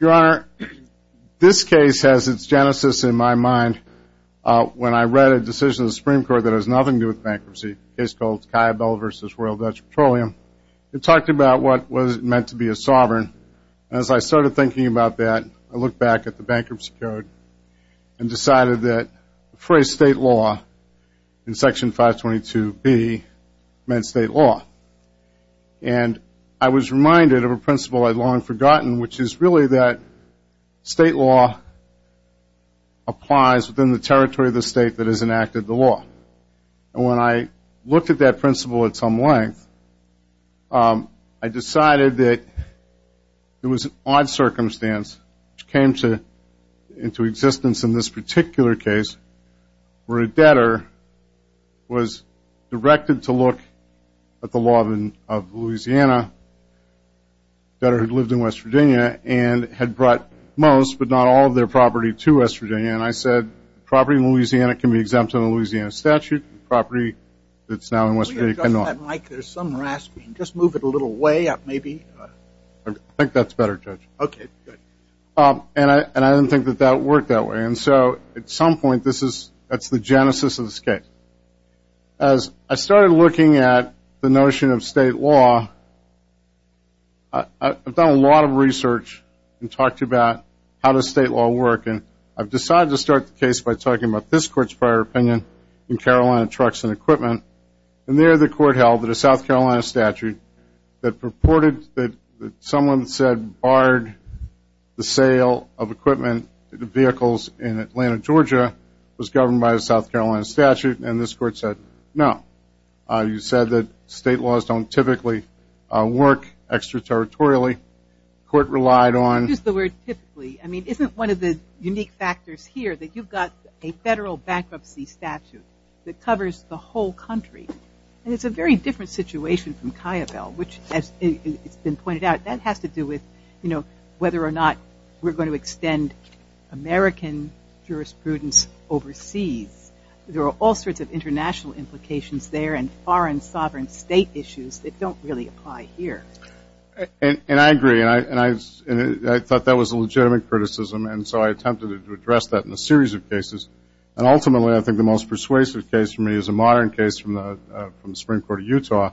Your Honor, this case has its genesis in my mind when I read a decision of the Supreme Court that has nothing to do with bankruptcy, a case called Caiabello v. Royal Dutch Petroleum. It talked about what it meant to be a sovereign. As I started thinking about that, I looked back at the bankruptcy code and decided that the phrase state law in section 522B meant state law. And I was reminded of a principle I had long forgotten, which is really that state law applies within the territory of the state that has enacted the law. And when I looked at that principle at some length, I decided that it was an odd circumstance which came into existence in this particular case, where a debtor was directed to look at the law of Louisiana, a debtor who lived in West Virginia, and had brought most, but not all, of their property to West Virginia. And I said, property in Louisiana can be exempt from the Louisiana statute, and property that's now in West Virginia cannot. I think that's better, Judge. And I didn't think that that worked that way. And so at some point, that's the genesis of this case. As I started looking at the notion of state law, I've done a lot of research and talked about how does state law work. And I've decided to start the case by talking about this court's prior opinion in Carolina Trucks and Equipment. And there, the court held that a South Carolina statute that purported that someone said barred the sale of equipment, vehicles, in Atlanta, Georgia was governed by a South Carolina statute. And this court said, no. You said that state laws don't typically work extraterritorially. Court relied on- Just the word typically. I mean, isn't one of the unique factors here that you've got a federal bankruptcy statute that covers the whole country? And it's a very different situation from Kiobel, which, as it's been pointed out, that has to do with whether or not we're going to extend American jurisprudence overseas. There are all sorts of international implications there and foreign sovereign state issues that don't really apply here. And I agree. And I thought that was a legitimate criticism. And so I attempted to address that in a series of cases. And ultimately, I think the most persuasive case for me is a modern case from the Supreme Court of Utah,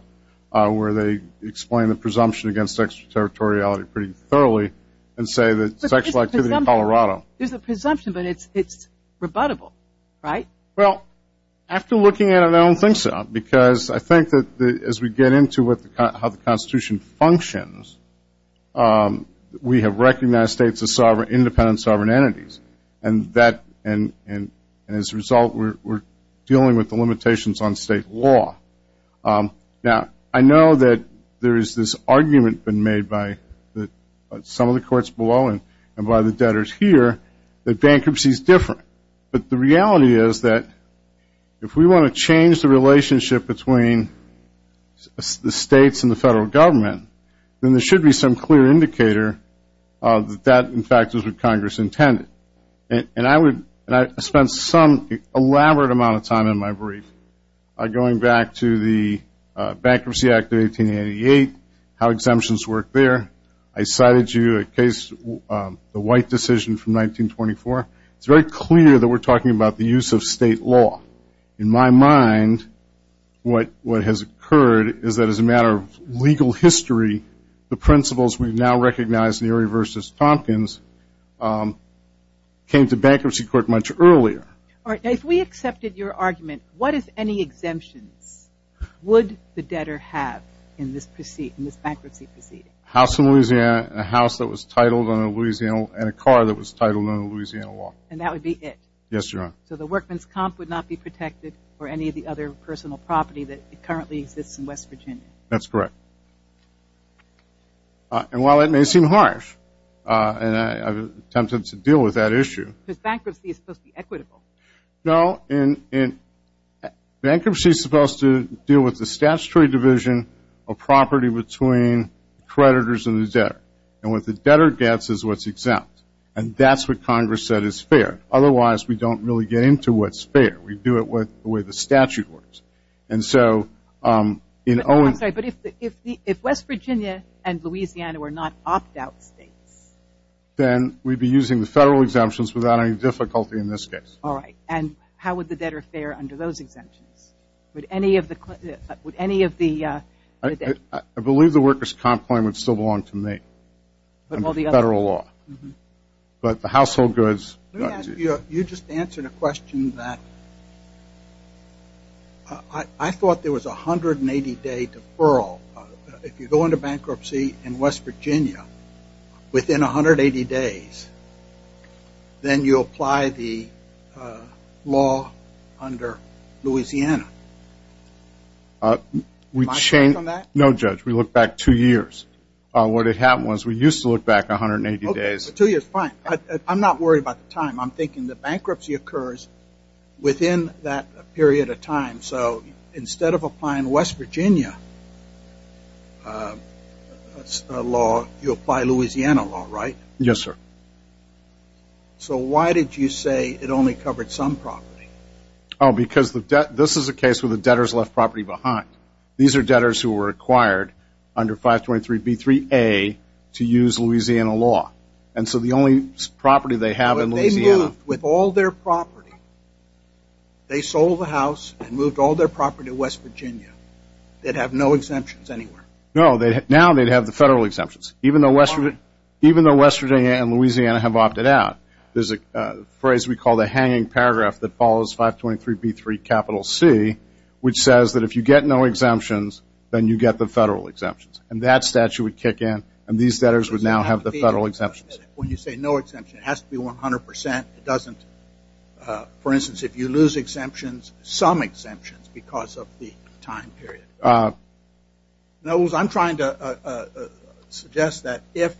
where they explain the presumption against extraterritoriality pretty thoroughly and say that sexual activity in Colorado- But there's a presumption. There's a presumption, but it's rebuttable, right? Well, after looking at it, I don't think so. Because I think that as we get into how the Constitution functions, we have recognized states as independent sovereign entities. And as a result, we're dealing with the limitations on state law. Now, I know that there is this argument been made by some of the courts below and by the debtors here that bankruptcy is different. But the reality is that if we want to change the relationship between the states and the federal government, then there should be some clear indicator that that, in fact, is what Congress intended. And I spent some elaborate amount of time in my brief going back to the Bankruptcy Act of 1888, how exemptions work there. I cited you a case, the White decision from 1924. It's very clear that we're talking about the use of state law. In my mind, what has occurred is that as a matter of legal history, the principles we've now recognized, Neary v. Tompkins, came to bankruptcy court much earlier. All right. Now, if we accepted your argument, what, if any, exemptions would the debtor have in this bankruptcy proceeding? House in Louisiana and a house that was titled in a Louisiana and a car that was titled in a Louisiana law. And that would be it? Yes, Your Honor. So the workman's comp would not be protected for any of the other personal property that currently exists in West Virginia? That's correct. And while it may seem harsh, and I'm tempted to deal with that issue. Because bankruptcy is supposed to be equitable. No. Bankruptcy is supposed to deal with the statutory division of property between creditors and the debtor. And what the debtor gets is what's exempt. And that's what Congress said is fair. Otherwise, we don't really get into what's fair. We do it with the way the statute works. And so, in Owen's case, I'm sorry, but if West Virginia and Louisiana were not opt-out states? Then we'd be using the federal exemptions without any difficulty in this case. All right. And how would the debtor fare under those exemptions? Would any of the, would any of the I believe the worker's comp claim would still belong to me under federal law. But the household goods You just answered a question that I thought there was a 180 day deferral. If you go into bankruptcy in West Virginia, within 180 days, then you apply the law under Louisiana. No, Judge. We look back two years. What had happened was we used to look back 180 days. Two years, fine. I'm not worried about the time. I'm thinking the bankruptcy occurs within that period of time. So, instead of applying West Virginia law, you apply Louisiana law, right? Yes, sir. So why did you say it only covered some property? Oh, because this is a case where the debtors left property behind. These are debtors who 523B3A to use Louisiana law. And so the only property they have in Louisiana But they moved with all their property. They sold the house and moved all their property to West Virginia. They'd have no exemptions anywhere. No, now they'd have the federal exemptions. Even though West Virginia and Louisiana have opted out. There's a phrase we call the hanging paragraph that follows 523B3 capital C, which says that if you get no exemptions, then you get the federal exemptions. And that statute would kick in and these debtors would now have the federal exemptions. When you say no exemptions, it has to be 100%. It doesn't, for instance, if you lose exemptions, some exemptions because of the time period. I'm trying to suggest that if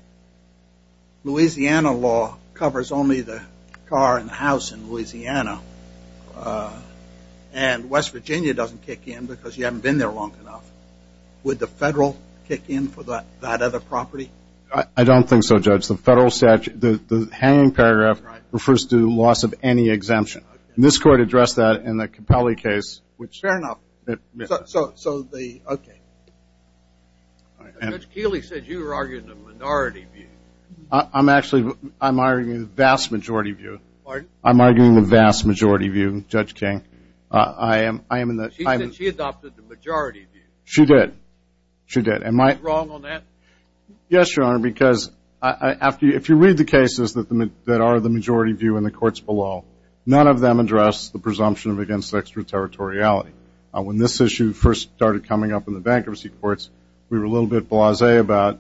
Louisiana law covers only the car and the house in Louisiana, and West Virginia doesn't kick in because you haven't been there long enough, would the federal kick in for that other property? I don't think so, Judge. The hanging paragraph refers to loss of any exemption. And this court addressed that in the Capelli case, which Fair enough. So the, okay. Judge Keeley said you were arguing a minority view. I'm actually, I'm arguing the vast majority view. Pardon? I'm arguing the vast majority view, Judge King. I am in the She said she adopted the majority view. She did. She did. Am I wrong on that? Yes, Your Honor, because if you read the cases that are the majority view in the courts below, none of them address the presumption of against extraterritoriality. When this issue first started coming up in the bankruptcy courts, we were a little bit blasé about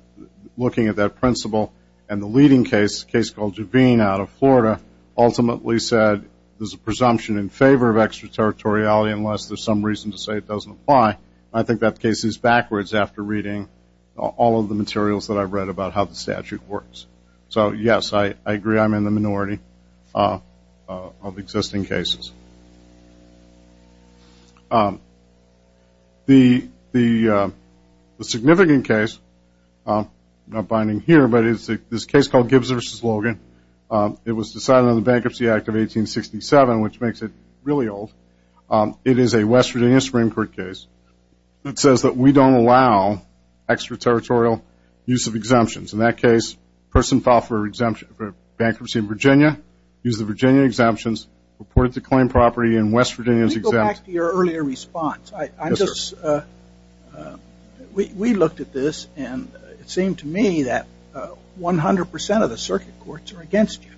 looking at that principle, and the leading case, a case called Juvine out of Florida, ultimately said there's a presumption in favor of extraterritoriality unless there's some reason to say it doesn't apply. I think that case is backwards after reading all of the materials that I've read about how the statute works. So, yes, I agree I'm in the minority of existing cases. The significant case, not binding here, but it's a case called Gibbs v. Logan. It was decided on the Bankruptcy Act of 1867, which makes it really old. It is a West Virginia Supreme Court case that says that we don't allow extraterritorial use of exemptions. In that case, a person filed for a bankruptcy in Virginia, used the Virginia exemptions, reported the claim property, and West Virginia is exempt. Let me go back to your earlier response. We looked at this, and it seemed to me that 100 percent of the circuit courts are against you.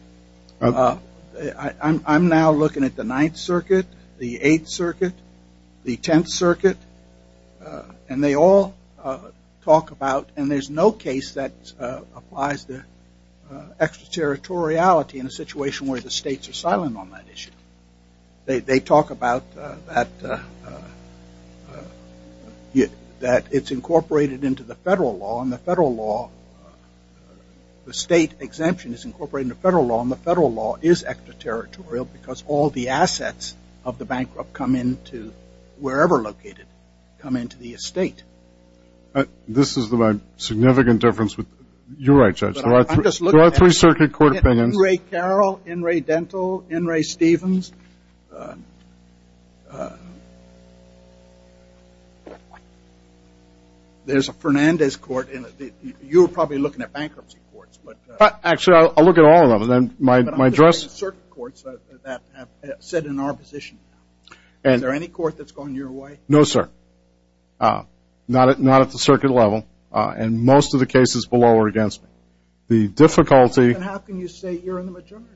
I'm now looking at the Ninth Circuit, the Eighth Circuit, the Tenth Circuit, and they all talk about, and there's no case that applies the extraterritoriality in a situation where the states are silent on that issue. They talk about that it's incorporated into the federal law, and the federal law, the state exemption is incorporated into the federal law, and the federal law is extraterritorial because all the assets of the bankrupt come into wherever located, come into the estate. This is my significant difference. You're right, Judge. There are three circuit court opinions. I'm just looking at In re Carroll, In re Dental, In re Stevens. There's a Fernandez court. You were probably looking at bankruptcy courts. Actually, I'll look at all of them. But I'm just looking at circuit courts that sit in our position now. Is there any court that's going your way? No, sir. Not at the circuit level, and most of the cases below are against me. The difficulty- Then how can you say you're in the majority?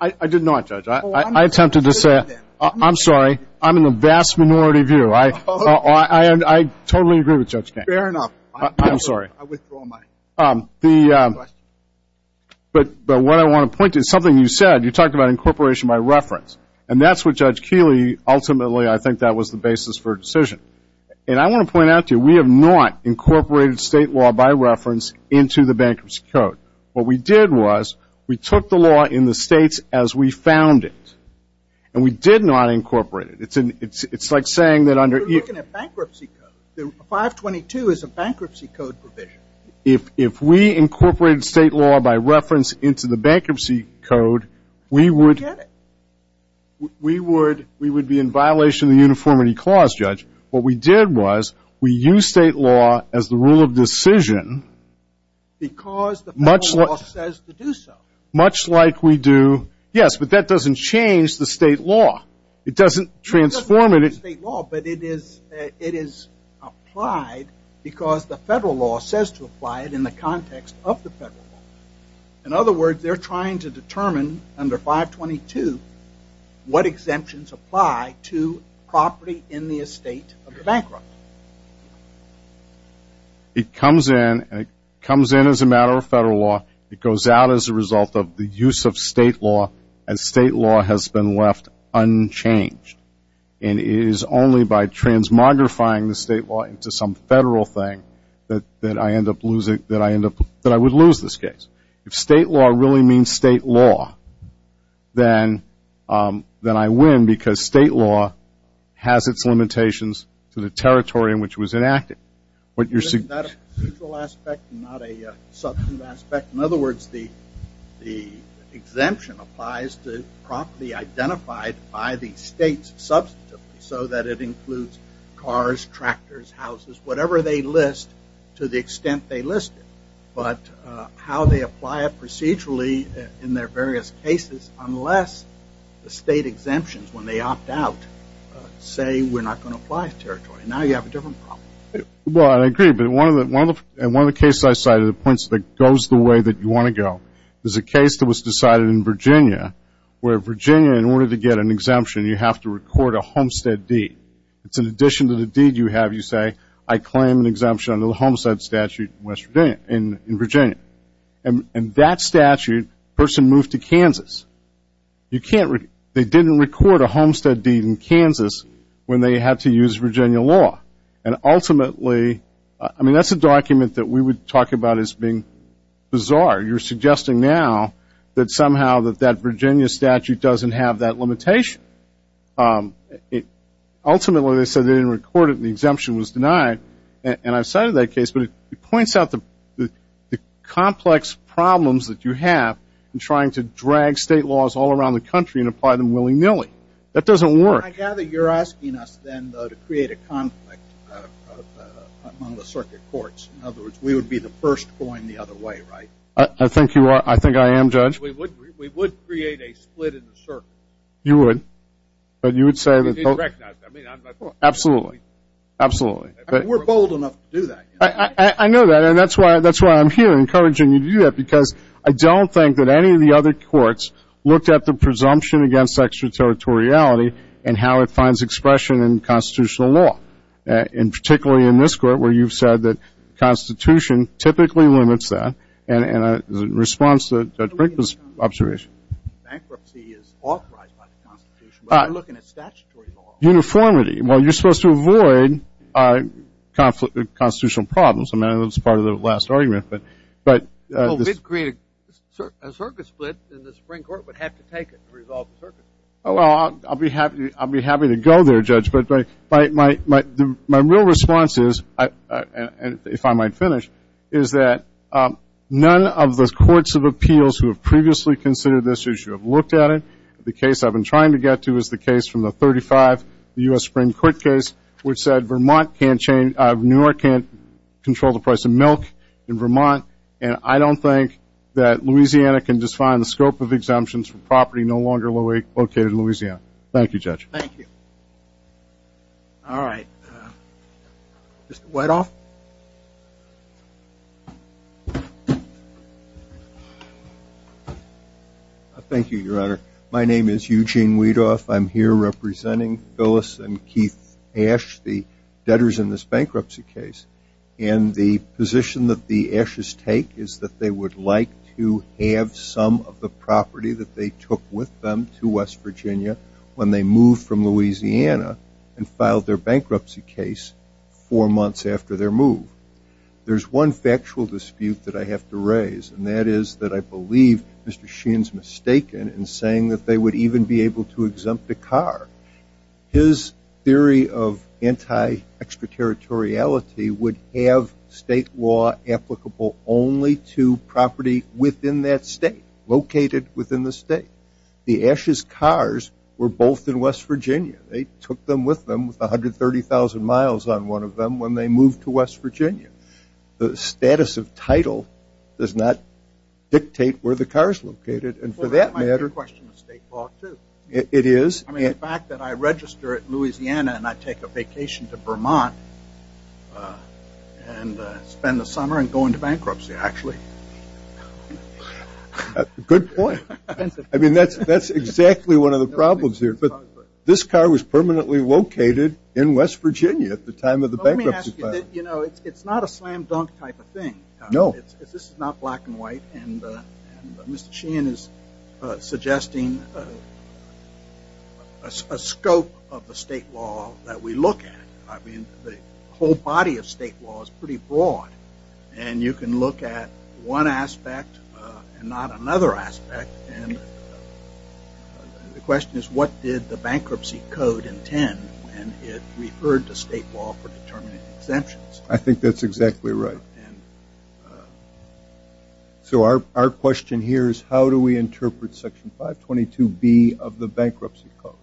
I did not, Judge. I attempted to say, I'm sorry, I'm in the vast minority view. I totally agree with Judge Koehn. Fair enough. I'm sorry. I withdraw my question. But what I want to point to is something you said. You talked about incorporation by reference, and that's what Judge Keeley, ultimately, I think that was the basis for a decision. And I want to point out to you, we have not incorporated state law by reference into the bankruptcy code. What we did was we took the law in the states as we found it, and we did not incorporate it. It's like saying that under- You're looking at bankruptcy code. 522 is a bankruptcy code provision. If we incorporated state law by reference into the bankruptcy code, we would- We would be in violation of the uniformity clause, Judge. What we did was we used state law as the rule of decision- Because the federal law says to do so. Much like we do- Yes, but that doesn't change the state law. It doesn't transform it- It doesn't change the state law, but it is applied because the federal law says to apply it in the context of the federal law. In other words, they're trying to determine under 522 what exemptions apply to property in the estate of the bankrupt. It comes in, and it comes in as a matter of federal law. It goes out as a result of the use of state law, and state law has been left unchanged. And it is only by transmogrifying the state law into some federal thing that I would lose this case. If state law really means state law, then I win because state law has its limitations to the territory in which it was enacted. What you're saying- Is that a procedural aspect and not a substantive aspect? In other words, the exemption applies to property identified by the states substantively, so that it includes cars, tractors, houses, whatever they list to the extent they list it. But how they apply it procedurally in their various cases, unless the state exemptions, when they opt out, say we're not going to apply it to territory. Now you have a different problem. Well, I agree, but one of the cases I cited points that it goes the way that you want to go. There's a case that was decided in Virginia, where Virginia, in order to get an exemption, you have to record a homestead deed. It's in addition to the deed you have, you say, I claim an exemption under the Homestead Statute in Virginia. And that statute, the person moved to Kansas. They didn't record a homestead deed in Kansas when they had to use Virginia law. And ultimately, I mean, that's a document that we would talk about as being bizarre. You're suggesting now that somehow that that Virginia statute doesn't have that limitation. Ultimately, they said they didn't record it, and the exemption was denied. And I've cited that case, but it points out the complex problems that you have in trying to drag state laws all around the country and apply them willy-nilly. That doesn't work. I gather you're asking us then, though, to create a conflict among the circuit courts. In other words, we would be the first going the other way, right? I think you are. I think I am, Judge. We would create a split in the circuit. You would. But you would say that... Absolutely. Absolutely. We're bold enough to do that. I know that. And that's why I'm here, encouraging you to do that, because I don't think that any of the other courts looked at the presumption against extraterritoriality and how it finds expression in constitutional law, and particularly in this court where you've said that the Constitution typically limits that. And in response to Judge Brinkman's observation... Bankruptcy is authorized by the Constitution, but we're looking at statutory law. Uniformity. Well, you're supposed to avoid constitutional problems. I mean, that was part of the last argument, but... Well, we'd create a circuit split, and the Supreme Court would have to take it to resolve the circuit. Well, I'll be happy to go there, Judge, but my real response is, if I might finish, is that none of the courts of appeals who have previously considered this issue have looked at it. The case I've been trying to get to is the case from the 35, the U.S. Supreme Court case, which said Vermont can't change... New York can't control the price of milk in Vermont, and I don't think that Louisiana can define the scope of exemptions for property no longer located in Louisiana. Thank you, Judge. Thank you. All right. Mr. Whiteoff? Thank you, Your Honor. My name is Eugene Whiteoff. I'm here representing Phyllis and Keith Ashe, the debtors in this bankruptcy case. And the position that the Ashes take is that they would like to have some of the property that they took with them to West Virginia when they moved from Louisiana and filed their bankruptcy case four months after their move. There's one factual dispute that I have to raise, and that is that I believe Mr. Sheehan's mistaken in saying that they would even be able to exempt a car. His theory of anti-extraterritoriality would have state law applicable only to property within that state, located within the state. The Ashes' cars were both in West Virginia. They took them with them with 130,000 miles on one of them when they moved to West Virginia. The status of title does not dictate where the car is located, and for that matter... Well, that might be a question of state law, too. It is. I mean, the fact that I register at Louisiana and I take a vacation to Vermont and spend the summer and go into bankruptcy, actually... Good point. I mean, that's exactly one of the problems here. But this car was permanently located in West Virginia at the time of the bankruptcy filing. You know, it's not a slam-dunk type of thing. This is not black and white, and Mr. Sheehan is suggesting a scope of the state law that we look at. I mean, the whole body of state law is pretty broad, and you can look at one aspect and not another aspect, and the question is what did the bankruptcy code intend when it referred to state law for determining exemptions? I think that's exactly right. So our question here is how do we interpret Section 522B of the bankruptcy code?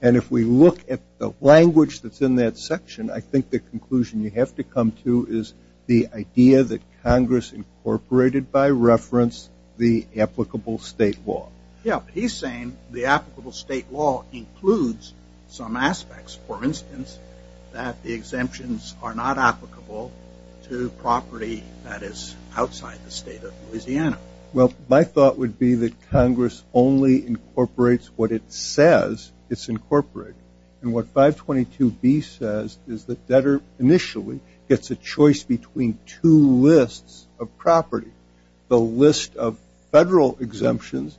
And if we look at the language that's in that section, I think the conclusion you have to come to is the idea that Congress incorporated by reference the applicable state law. Yeah, but he's saying the applicable state law includes some aspects. For instance, that the exemptions are not applicable to property that is outside the state of Louisiana. Well, my thought would be that Congress only incorporates what it says it's incorporated. And what 522B says is that debtor initially gets a choice between two lists of property, the list of federal exemptions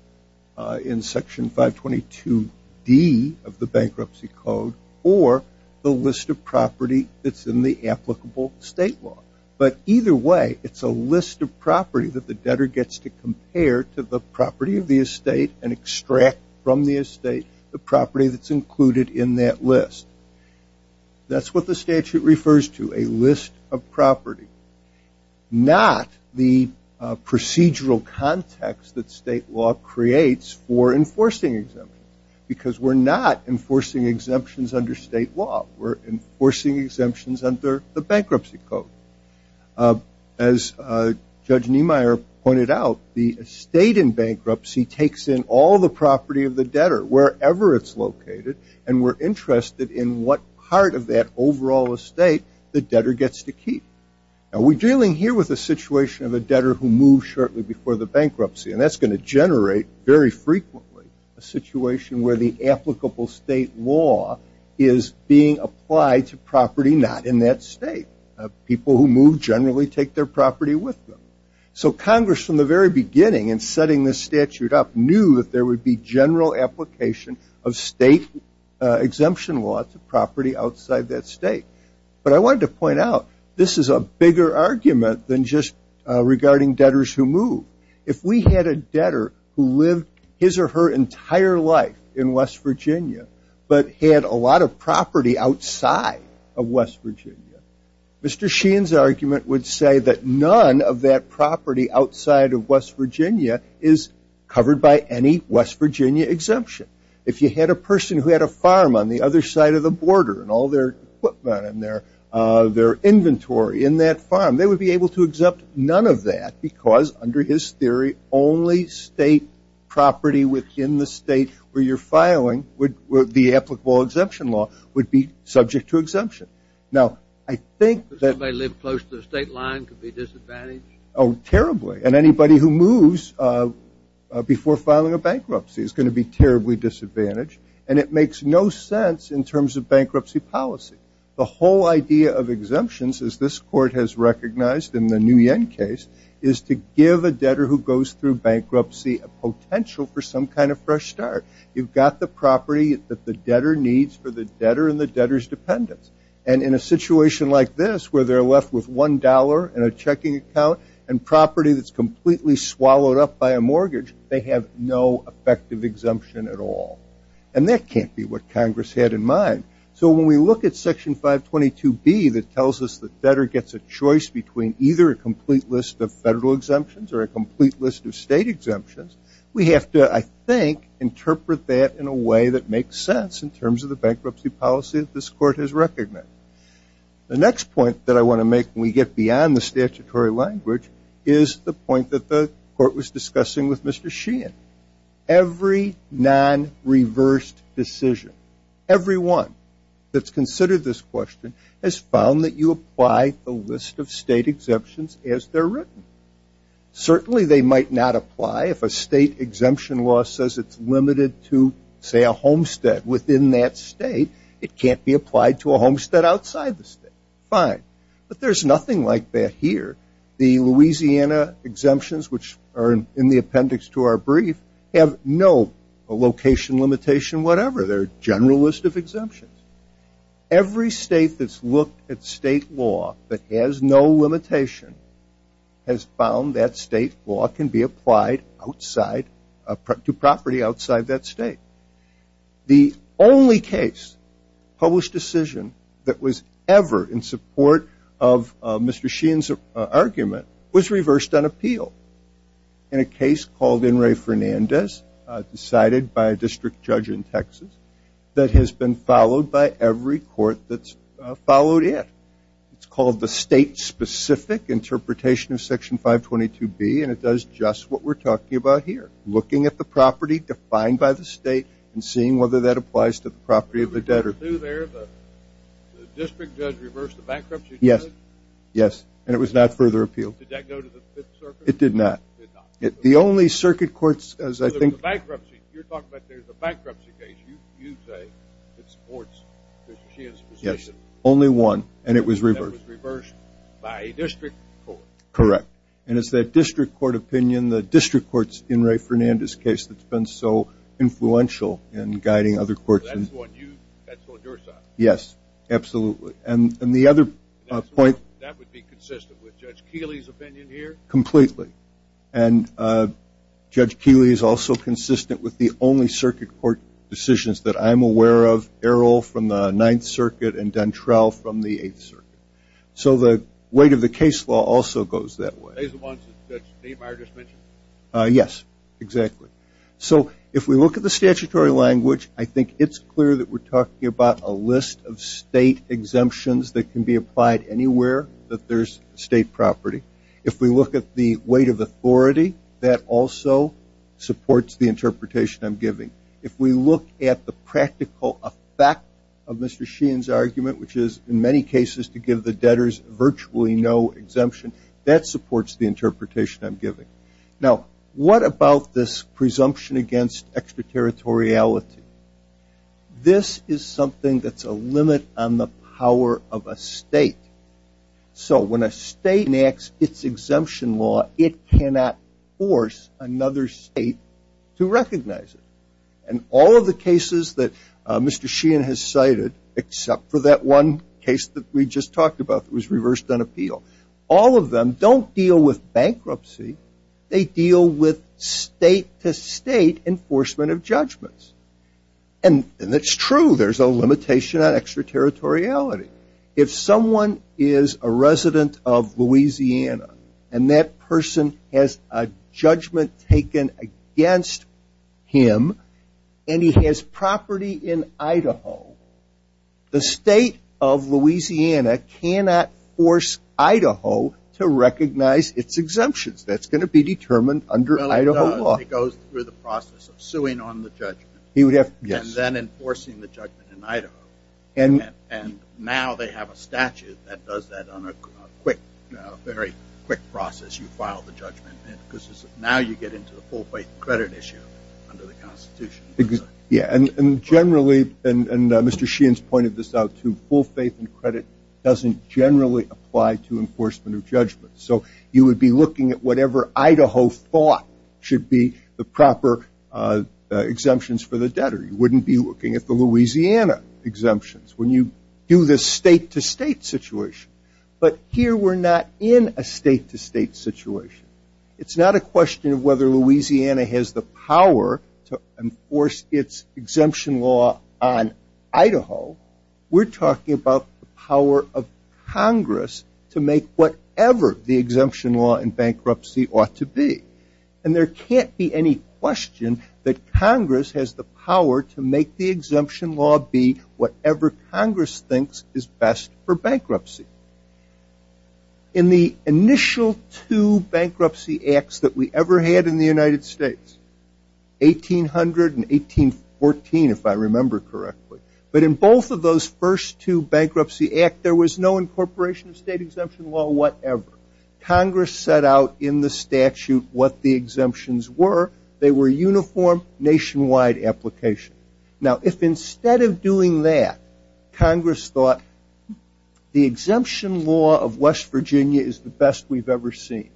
in Section 522D of the bankruptcy code, or the list of property that's in the applicable state law. But either way, it's a list of property that the debtor gets to compare to the property of the estate and extract from the estate the property that's included in that list. That's what the statute refers to, a list of property, not the procedural context that state law creates for enforcing exemptions because we're not enforcing exemptions under state law. We're enforcing exemptions under the bankruptcy code. As Judge Niemeyer pointed out, the estate in bankruptcy takes in all the property of the debtor wherever it's located, and we're interested in what part of that overall estate the debtor gets to keep. Now, we're dealing here with a situation of a debtor who moves shortly before the bankruptcy, and that's going to generate very frequently a situation where the applicable state law is being applied to property not in that state. People who move generally take their property with them. So Congress, from the very beginning in setting this statute up, knew that there would be general application of state exemption law to property outside that state. But I wanted to point out, this is a bigger argument than just regarding debtors who move. If we had a debtor who lived his or her entire life in West Virginia but had a lot of property outside of West Virginia, Mr. Sheehan's argument would say that none of that property outside of West Virginia is covered by any West Virginia exemption. If you had a person who had a farm on the other side of the border and all their equipment and their inventory in that farm, they would be able to exempt none of that because, under his theory, only state property within the state where you're filing the applicable exemption law would be subject to exemption. Now, I think that anybody who moves before filing a bankruptcy is going to be terribly disadvantaged, and it makes no sense in terms of bankruptcy policy. The whole idea of exemptions as this court has recognized in the Nguyen case is to give a debtor who goes through bankruptcy a potential for some kind of fresh start. You've got the property that the debtor needs for the debtor and the debtor's dependents, and in a situation like this where they're left with $1 in a checking account and property that's completely swallowed up by a mortgage, they have no effective exemption at all. And that can't be what Congress had in mind. So when we look at Section 522B that tells us the debtor gets a choice between either a complete list of federal exemptions or a complete list of state exemptions, we have to, I think, interpret that in a way that makes sense in terms of the bankruptcy policy that this court has recognized. The next point that I want to make when we get beyond the statutory language is the point that the court was discussing with Mr. Sheehan. Every non-reversed decision, everyone that's considered this question has found that you apply a list of state exemptions as they're written. Certainly they might not apply if a state exemption law says it's limited to, say, a homestead within that state. It can't be applied to a homestead outside the state. Fine. But there's nothing like that here. The Louisiana exemptions, which are in the appendix to our brief, have no location limitation whatever. They're a general list of exemptions. Every state that's looked at state law that has no limitation has found that state law can be applied to property outside that state. The only case published decision that was ever in support of Mr. Sheehan's argument was reversed on the 522B in a case called In re Fernandez, decided by a district judge in Texas, that has been followed by every court that's followed it. It's called the state-specific interpretation of Section 522B, and it does just what we're talking about here, looking at the property defined by the state and seeing whether that applies to the property of the debtor. What did you do there? The district judge reversed the bankruptcy decision? Yes. Yes. And it was not further appealed. Did that go to the Fifth Circuit? It did not. The only circuit courts, as I think... You're talking about there's a bankruptcy case. You say it supports Mr. Sheehan's position. Yes. Only one. And it was reversed. And it was reversed by a district court. Correct. And it's that district court opinion, the district court's In re Fernandez case that's been so influential in guiding other courts. So that's on your side? Yes. Absolutely. And the other point... That would be consistent with Judge Keeley's opinion here? Completely. And Judge Keeley is also consistent with the only circuit court decisions that I'm aware of, Errol from the Ninth Circuit and Dantrell from the Eighth Circuit. So the weight of the case law also goes that way. As the one Judge Neymar just mentioned? Yes. Exactly. So if we look at the statutory language, I think it's clear that we're talking about a list of state exemptions that can be applied anywhere that there's state property. If we look at the weight of authority, that also supports the interpretation I'm giving. If we look at the practical effect of Mr. Sheehan's argument, which is in many cases to give the debtors virtually no exemption, that supports the interpretation I'm giving. Now, what about this presumption against extraterritoriality? This is something that's a limit on the power of a state. So when a state enacts its exemption law, it cannot force another state to recognize it. And all of the cases that Mr. Sheehan has cited, except for that one case that we just talked about that was reversed on appeal, all of them don't deal with bankruptcy. They deal with state-to-state enforcement of judgments. And it's true there's a limitation on extraterritoriality. If someone is a resident of Louisiana and that person has a judgment taken against him and he has property in Idaho, the state of Louisiana cannot force Idaho to recognize its exemptions. That's going to be determined under Idaho law. It goes through the process of suing on the judgment and then enforcing the judgment in Idaho. And now they have a statute that does that on a very quick process. You file the judgment. Now you get into the full-faith credit issue under the Constitution. Yeah, and generally, and Mr. Sheehan's pointed this out too, full faith in credit doesn't generally apply to enforcement of judgment. So you would be looking at whatever Idaho thought should be the proper exemptions for the debtor. You wouldn't be looking at the Louisiana exemptions when you do this state-to-state situation. But here we're not in a state-to-state situation. It's not a question of whether Louisiana has the power to enforce its exemption law on Idaho. We're talking about the power of Congress to make whatever the exemption law in bankruptcy ought to be. And there can't be any question that Congress has the power to make the exemption law be whatever Congress thinks is best for bankruptcy. In the initial two bankruptcy acts that we ever had in the United States, 1800 and 1814, if I remember correctly, but in both of those first two bankruptcy acts there was no incorporation of state exemption law whatever. Congress set out in the statute what the exemptions were. They were uniform nationwide applications. Now, if instead of doing that, Congress thought the exemption law of West Virginia is the best we've ever seen,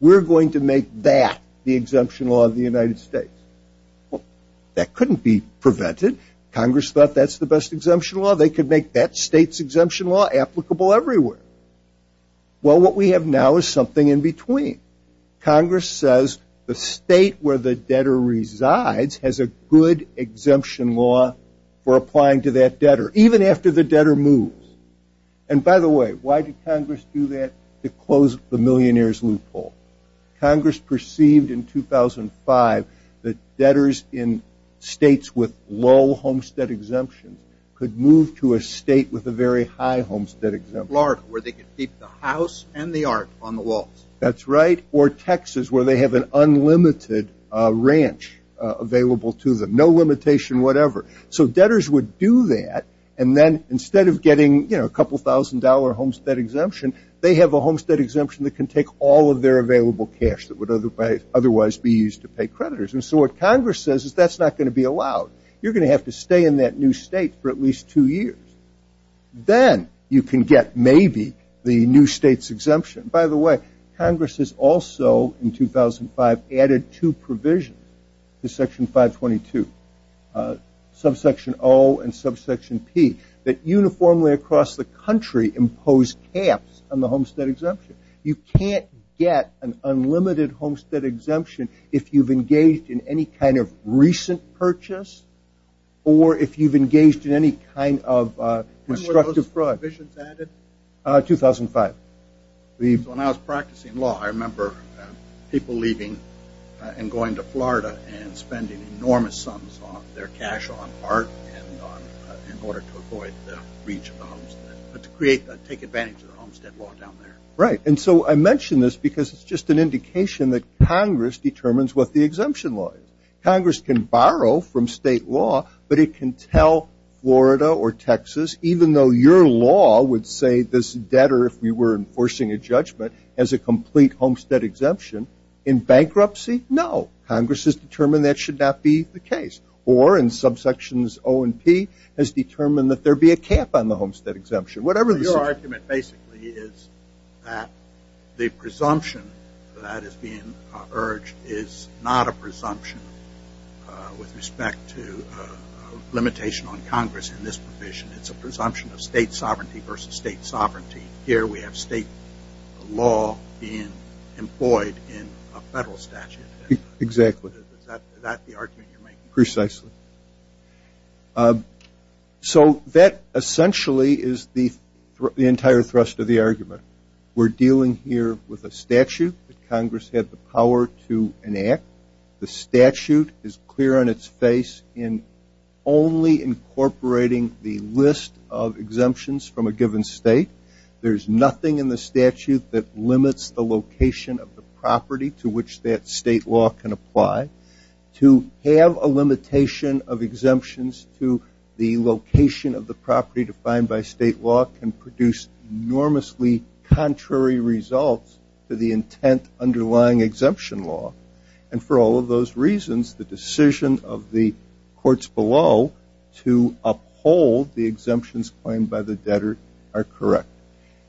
we're going to make that the exemption law of the United States. Well, that couldn't be prevented. Congress thought that's the best exemption law. They could make that state's exemption law applicable everywhere. Well, what we have now is something in between. Congress says the state where the debtor resides has a good exemption law for applying to that debtor, even after the debtor moves. And by the way, why did Congress do that? To close the millionaire's loophole. Congress perceived in 2005 that debtors in states with low homestead exemptions could move to a state with a very high homestead exemption. Florida, where they could keep the house and the art on the walls. That's right. Or Texas, where they have an unlimited ranch available to them. No limitation, whatever. So debtors would do that, and then instead of getting a couple thousand dollar homestead exemption, they have a homestead exemption that can take all of their available cash that would otherwise be used to pay creditors. And so what Congress says is that's not going to be allowed. You're going to have to stay in that new state for at least two years. Then you can get maybe the new state's exemption. By the way, Congress has also, in 2005, added two provisions to Section 522, Subsection O and Subsection P, that uniformly across the country impose caps on the homestead exemption. You can't get an unlimited homestead exemption if you've engaged in any kind of recent purchase or if you've engaged in any kind of constructive fraud. When were those provisions added? 2005. When I was practicing law, I remember people leaving and going to Florida and spending enormous sums of their cash on art in order to avoid the breach of the homestead, but to take advantage of the homestead law down there. Right. And so I mention this because it's just an indication that Congress determines what the exemption law is. Congress can borrow from state law, but it can tell Florida or Texas, even though your law would say this debtor, if we were enforcing a judgment, has a complete homestead exemption. In bankruptcy, no. Congress has determined that should not be the case. Or in subsections O and P, has determined that there be a cap on the homestead exemption. Your argument basically is that the presumption that is being urged is not a presumption with respect to limitation on Congress in this provision. It's a presumption of state sovereignty versus state sovereignty. Here we have state law being employed in a federal statute. Exactly. Is that the argument you're making? Precisely. So that essentially is the entire thrust of the argument. We're dealing here with a statute that Congress had the power to enact. The statute is clear on its face in only incorporating the list of exemptions from a given state. There's nothing in the statute that limits the location of the property to which that state law can apply. To have a limitation of exemptions to the location of the property defined by state law can produce enormously contrary results to the intent underlying exemption law. And for all of those reasons, the decision of the courts below to uphold the exemptions claimed by the debtor are correct.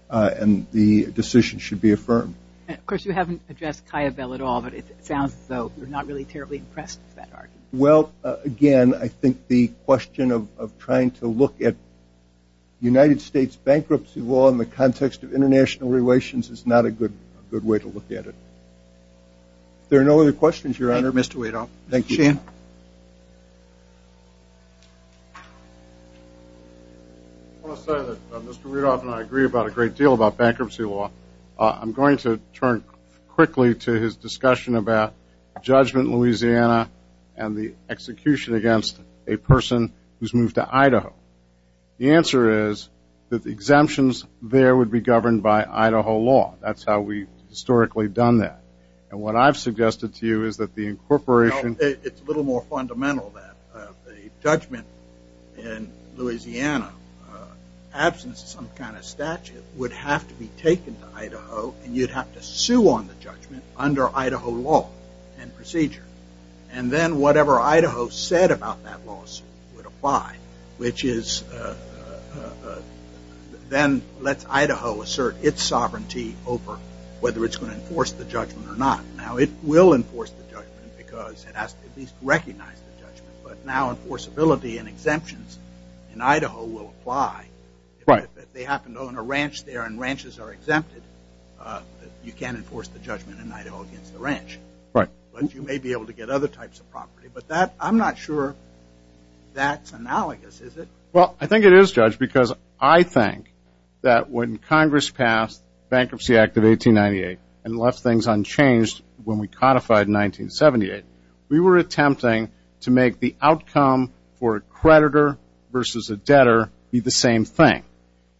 And the decision should be affirmed. Of course, you haven't addressed Kiobel at all, but it sounds as though you're not really terribly impressed with that argument. Well, again, I think the question of trying to look at United States bankruptcy law in the context of international relations is not a good way to look at it. If there are no other questions, Your Honor. Thank you, Mr. Rudolph. I want to say that Mr. Rudolph and I agree a great deal about bankruptcy law. I'm going to turn quickly to his discussion about judgment in Louisiana and the execution against a person who's moved to Idaho. The answer is that the exemptions there would be governed by Idaho law. That's how we've historically done that. And what I've suggested to you is that the incorporation... It's a little more fundamental that the judgment in Louisiana absence of some kind of statute would have to be taken to Idaho and you'd have to sue on the judgment under Idaho law and procedure. And then whatever Idaho said about that lawsuit would apply, which then lets Idaho assert its sovereignty over whether it's going to enforce the judgment or not. Now, it will enforce the judgment because it has to at least recognize the judgment. But now enforceability and exemptions in Idaho will apply. If they happen to own a ranch there and ranches are exempted, you can't enforce the judgment in Idaho against the ranch. But you may be able to get other types of property. But I'm not sure that's analogous, is it? Well, I think it is, Judge, because I think that when Congress passed the Bankruptcy Act of 1898 and left things unchanged when we codified in 1978, we were attempting to make the outcome for a creditor versus a debtor be the same thing,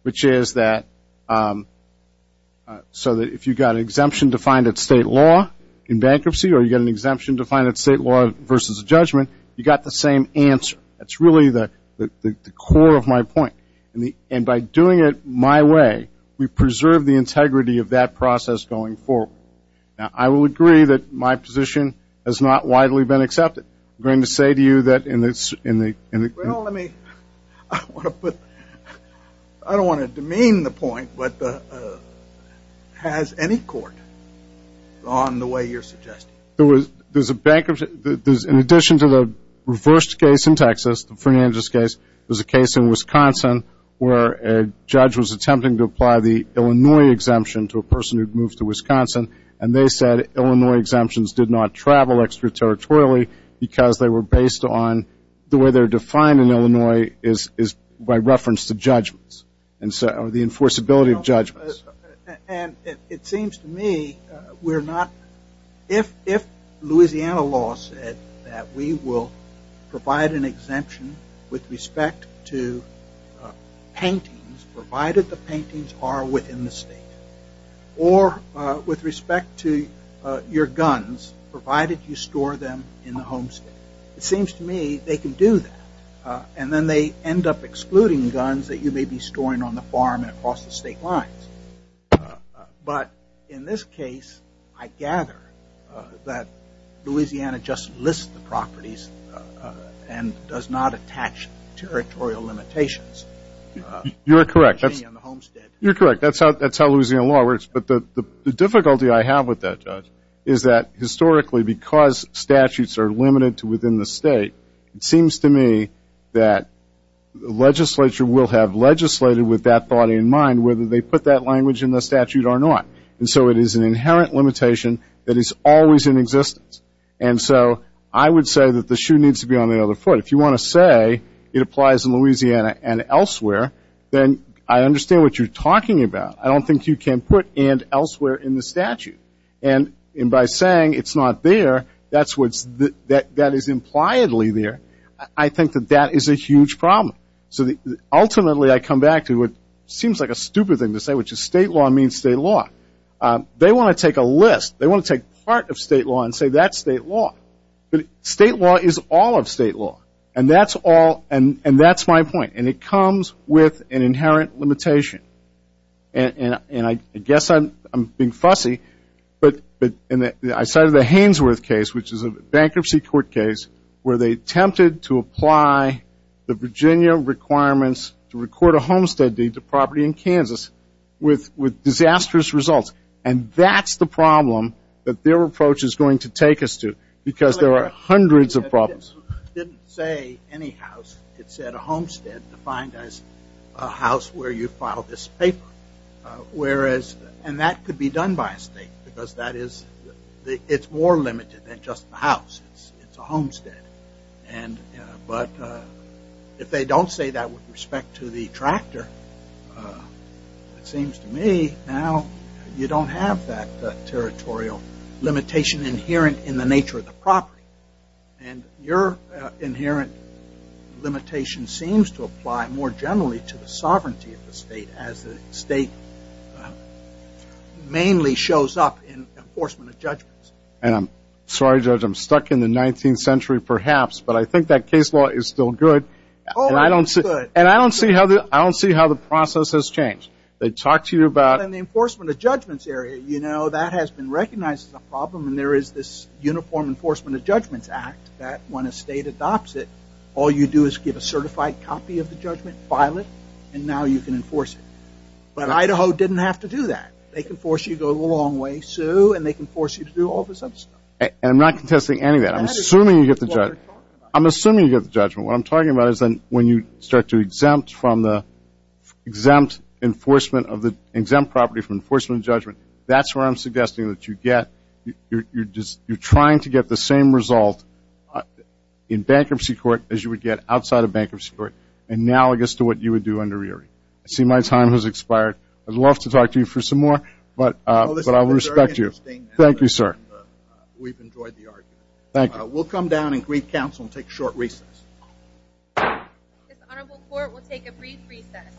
which is that... So that if you got an exemption defined at state law in bankruptcy or you got an exemption defined at state law versus judgment, you got the same answer. That's really the core of my point. And by doing it my way, we preserve the integrity of that process going forward. Now, I will agree that my position has not widely been accepted. I'm going to say to you that in the... Well, let me... I want to put... I don't want to demean the point, but has any court gone the way you're suggesting? There's a bankruptcy... In addition to the reversed case in Texas, the Fernandez case, there's a case in Wisconsin where a judge was attempting to apply the Illinois exemption to a person who'd moved to Wisconsin, and they said Illinois exemptions did not travel extraterritorially because they were based on... The way they're defined in Illinois is by reference to judgments. Or the enforceability of judgments. And it seems to me we're not... If Louisiana law said that we will provide an exemption with respect to paintings, provided the paintings are within the state, or with respect to your guns, provided you store them in the home state, it seems to me they can do that. And then they end up excluding guns that you may be storing on the farm and across the state lines. But in this case, I gather that Louisiana just lists the properties and does not attach territorial limitations. You're correct. You're correct. That's how Louisiana law works. But the difficulty I have with that, Judge, is that historically, because statutes are limited to within the state, it seems to me that the legislature will have legislated with that thought in mind whether they put that language in the statute or not. And so it is an inherent limitation that is always in existence. And so I would say that the shoe needs to be on the other foot. If you want to say it applies in Louisiana and elsewhere, then I understand what you're talking about. I don't think you can put and elsewhere in the statute. And by saying it's not there, that is impliedly there. I think that that is a huge problem. So ultimately, I come back to what seems like a stupid thing to say, which is state law means state law. They want to take a list. They want to take part of state law and say that's state law. But state law is all of state law. And that's my point. And it comes with an inherent limitation. And I guess I'm being fussy. But I cited the Hainsworth case, which is a bankruptcy court case where they attempted to apply the Virginia requirements to record a homestead deed to property in Kansas with disastrous results. And that's the problem that their approach is going to take us to because there are hundreds of problems. It didn't say any house. a house where you filed this paper. And that could be done by a state. Because it's more limited than just the house. It's a homestead. But if they don't say that with respect to the tractor, it seems to me now you don't have that territorial limitation inherent in the nature of the property. And your inherent limitation seems to apply more generally to the sovereignty of the state as the state mainly shows up in enforcement of judgments. And I'm sorry Judge, I'm stuck in the 19th century perhaps, but I think that case law is still good. And I don't see how the process has changed. They talk to you about... In the enforcement of judgments area, that has been recognized as a problem and there is this Uniform Enforcement of Judgments Act that when a state adopts it, all you do is give a certified copy of the judgment, file it, and now you can enforce it. But Idaho didn't have to do that. They can force you to go a long way, sue, and they can force you to do all this other stuff. I'm not contesting any of that. I'm assuming you get the judgment. What I'm talking about is when you start to exempt from the exempt enforcement of the exempt property from enforcement of judgment, that's where I'm suggesting that you get you're trying to get the same result in bankruptcy court as you would get outside of bankruptcy court analogous to what you would do under Erie. I see my time has expired. I'd love to talk to you for some more, but I'll respect you. Thank you, sir. Thank you. We'll come down and brief counsel and take a short recess. This honorable court will take a brief recess.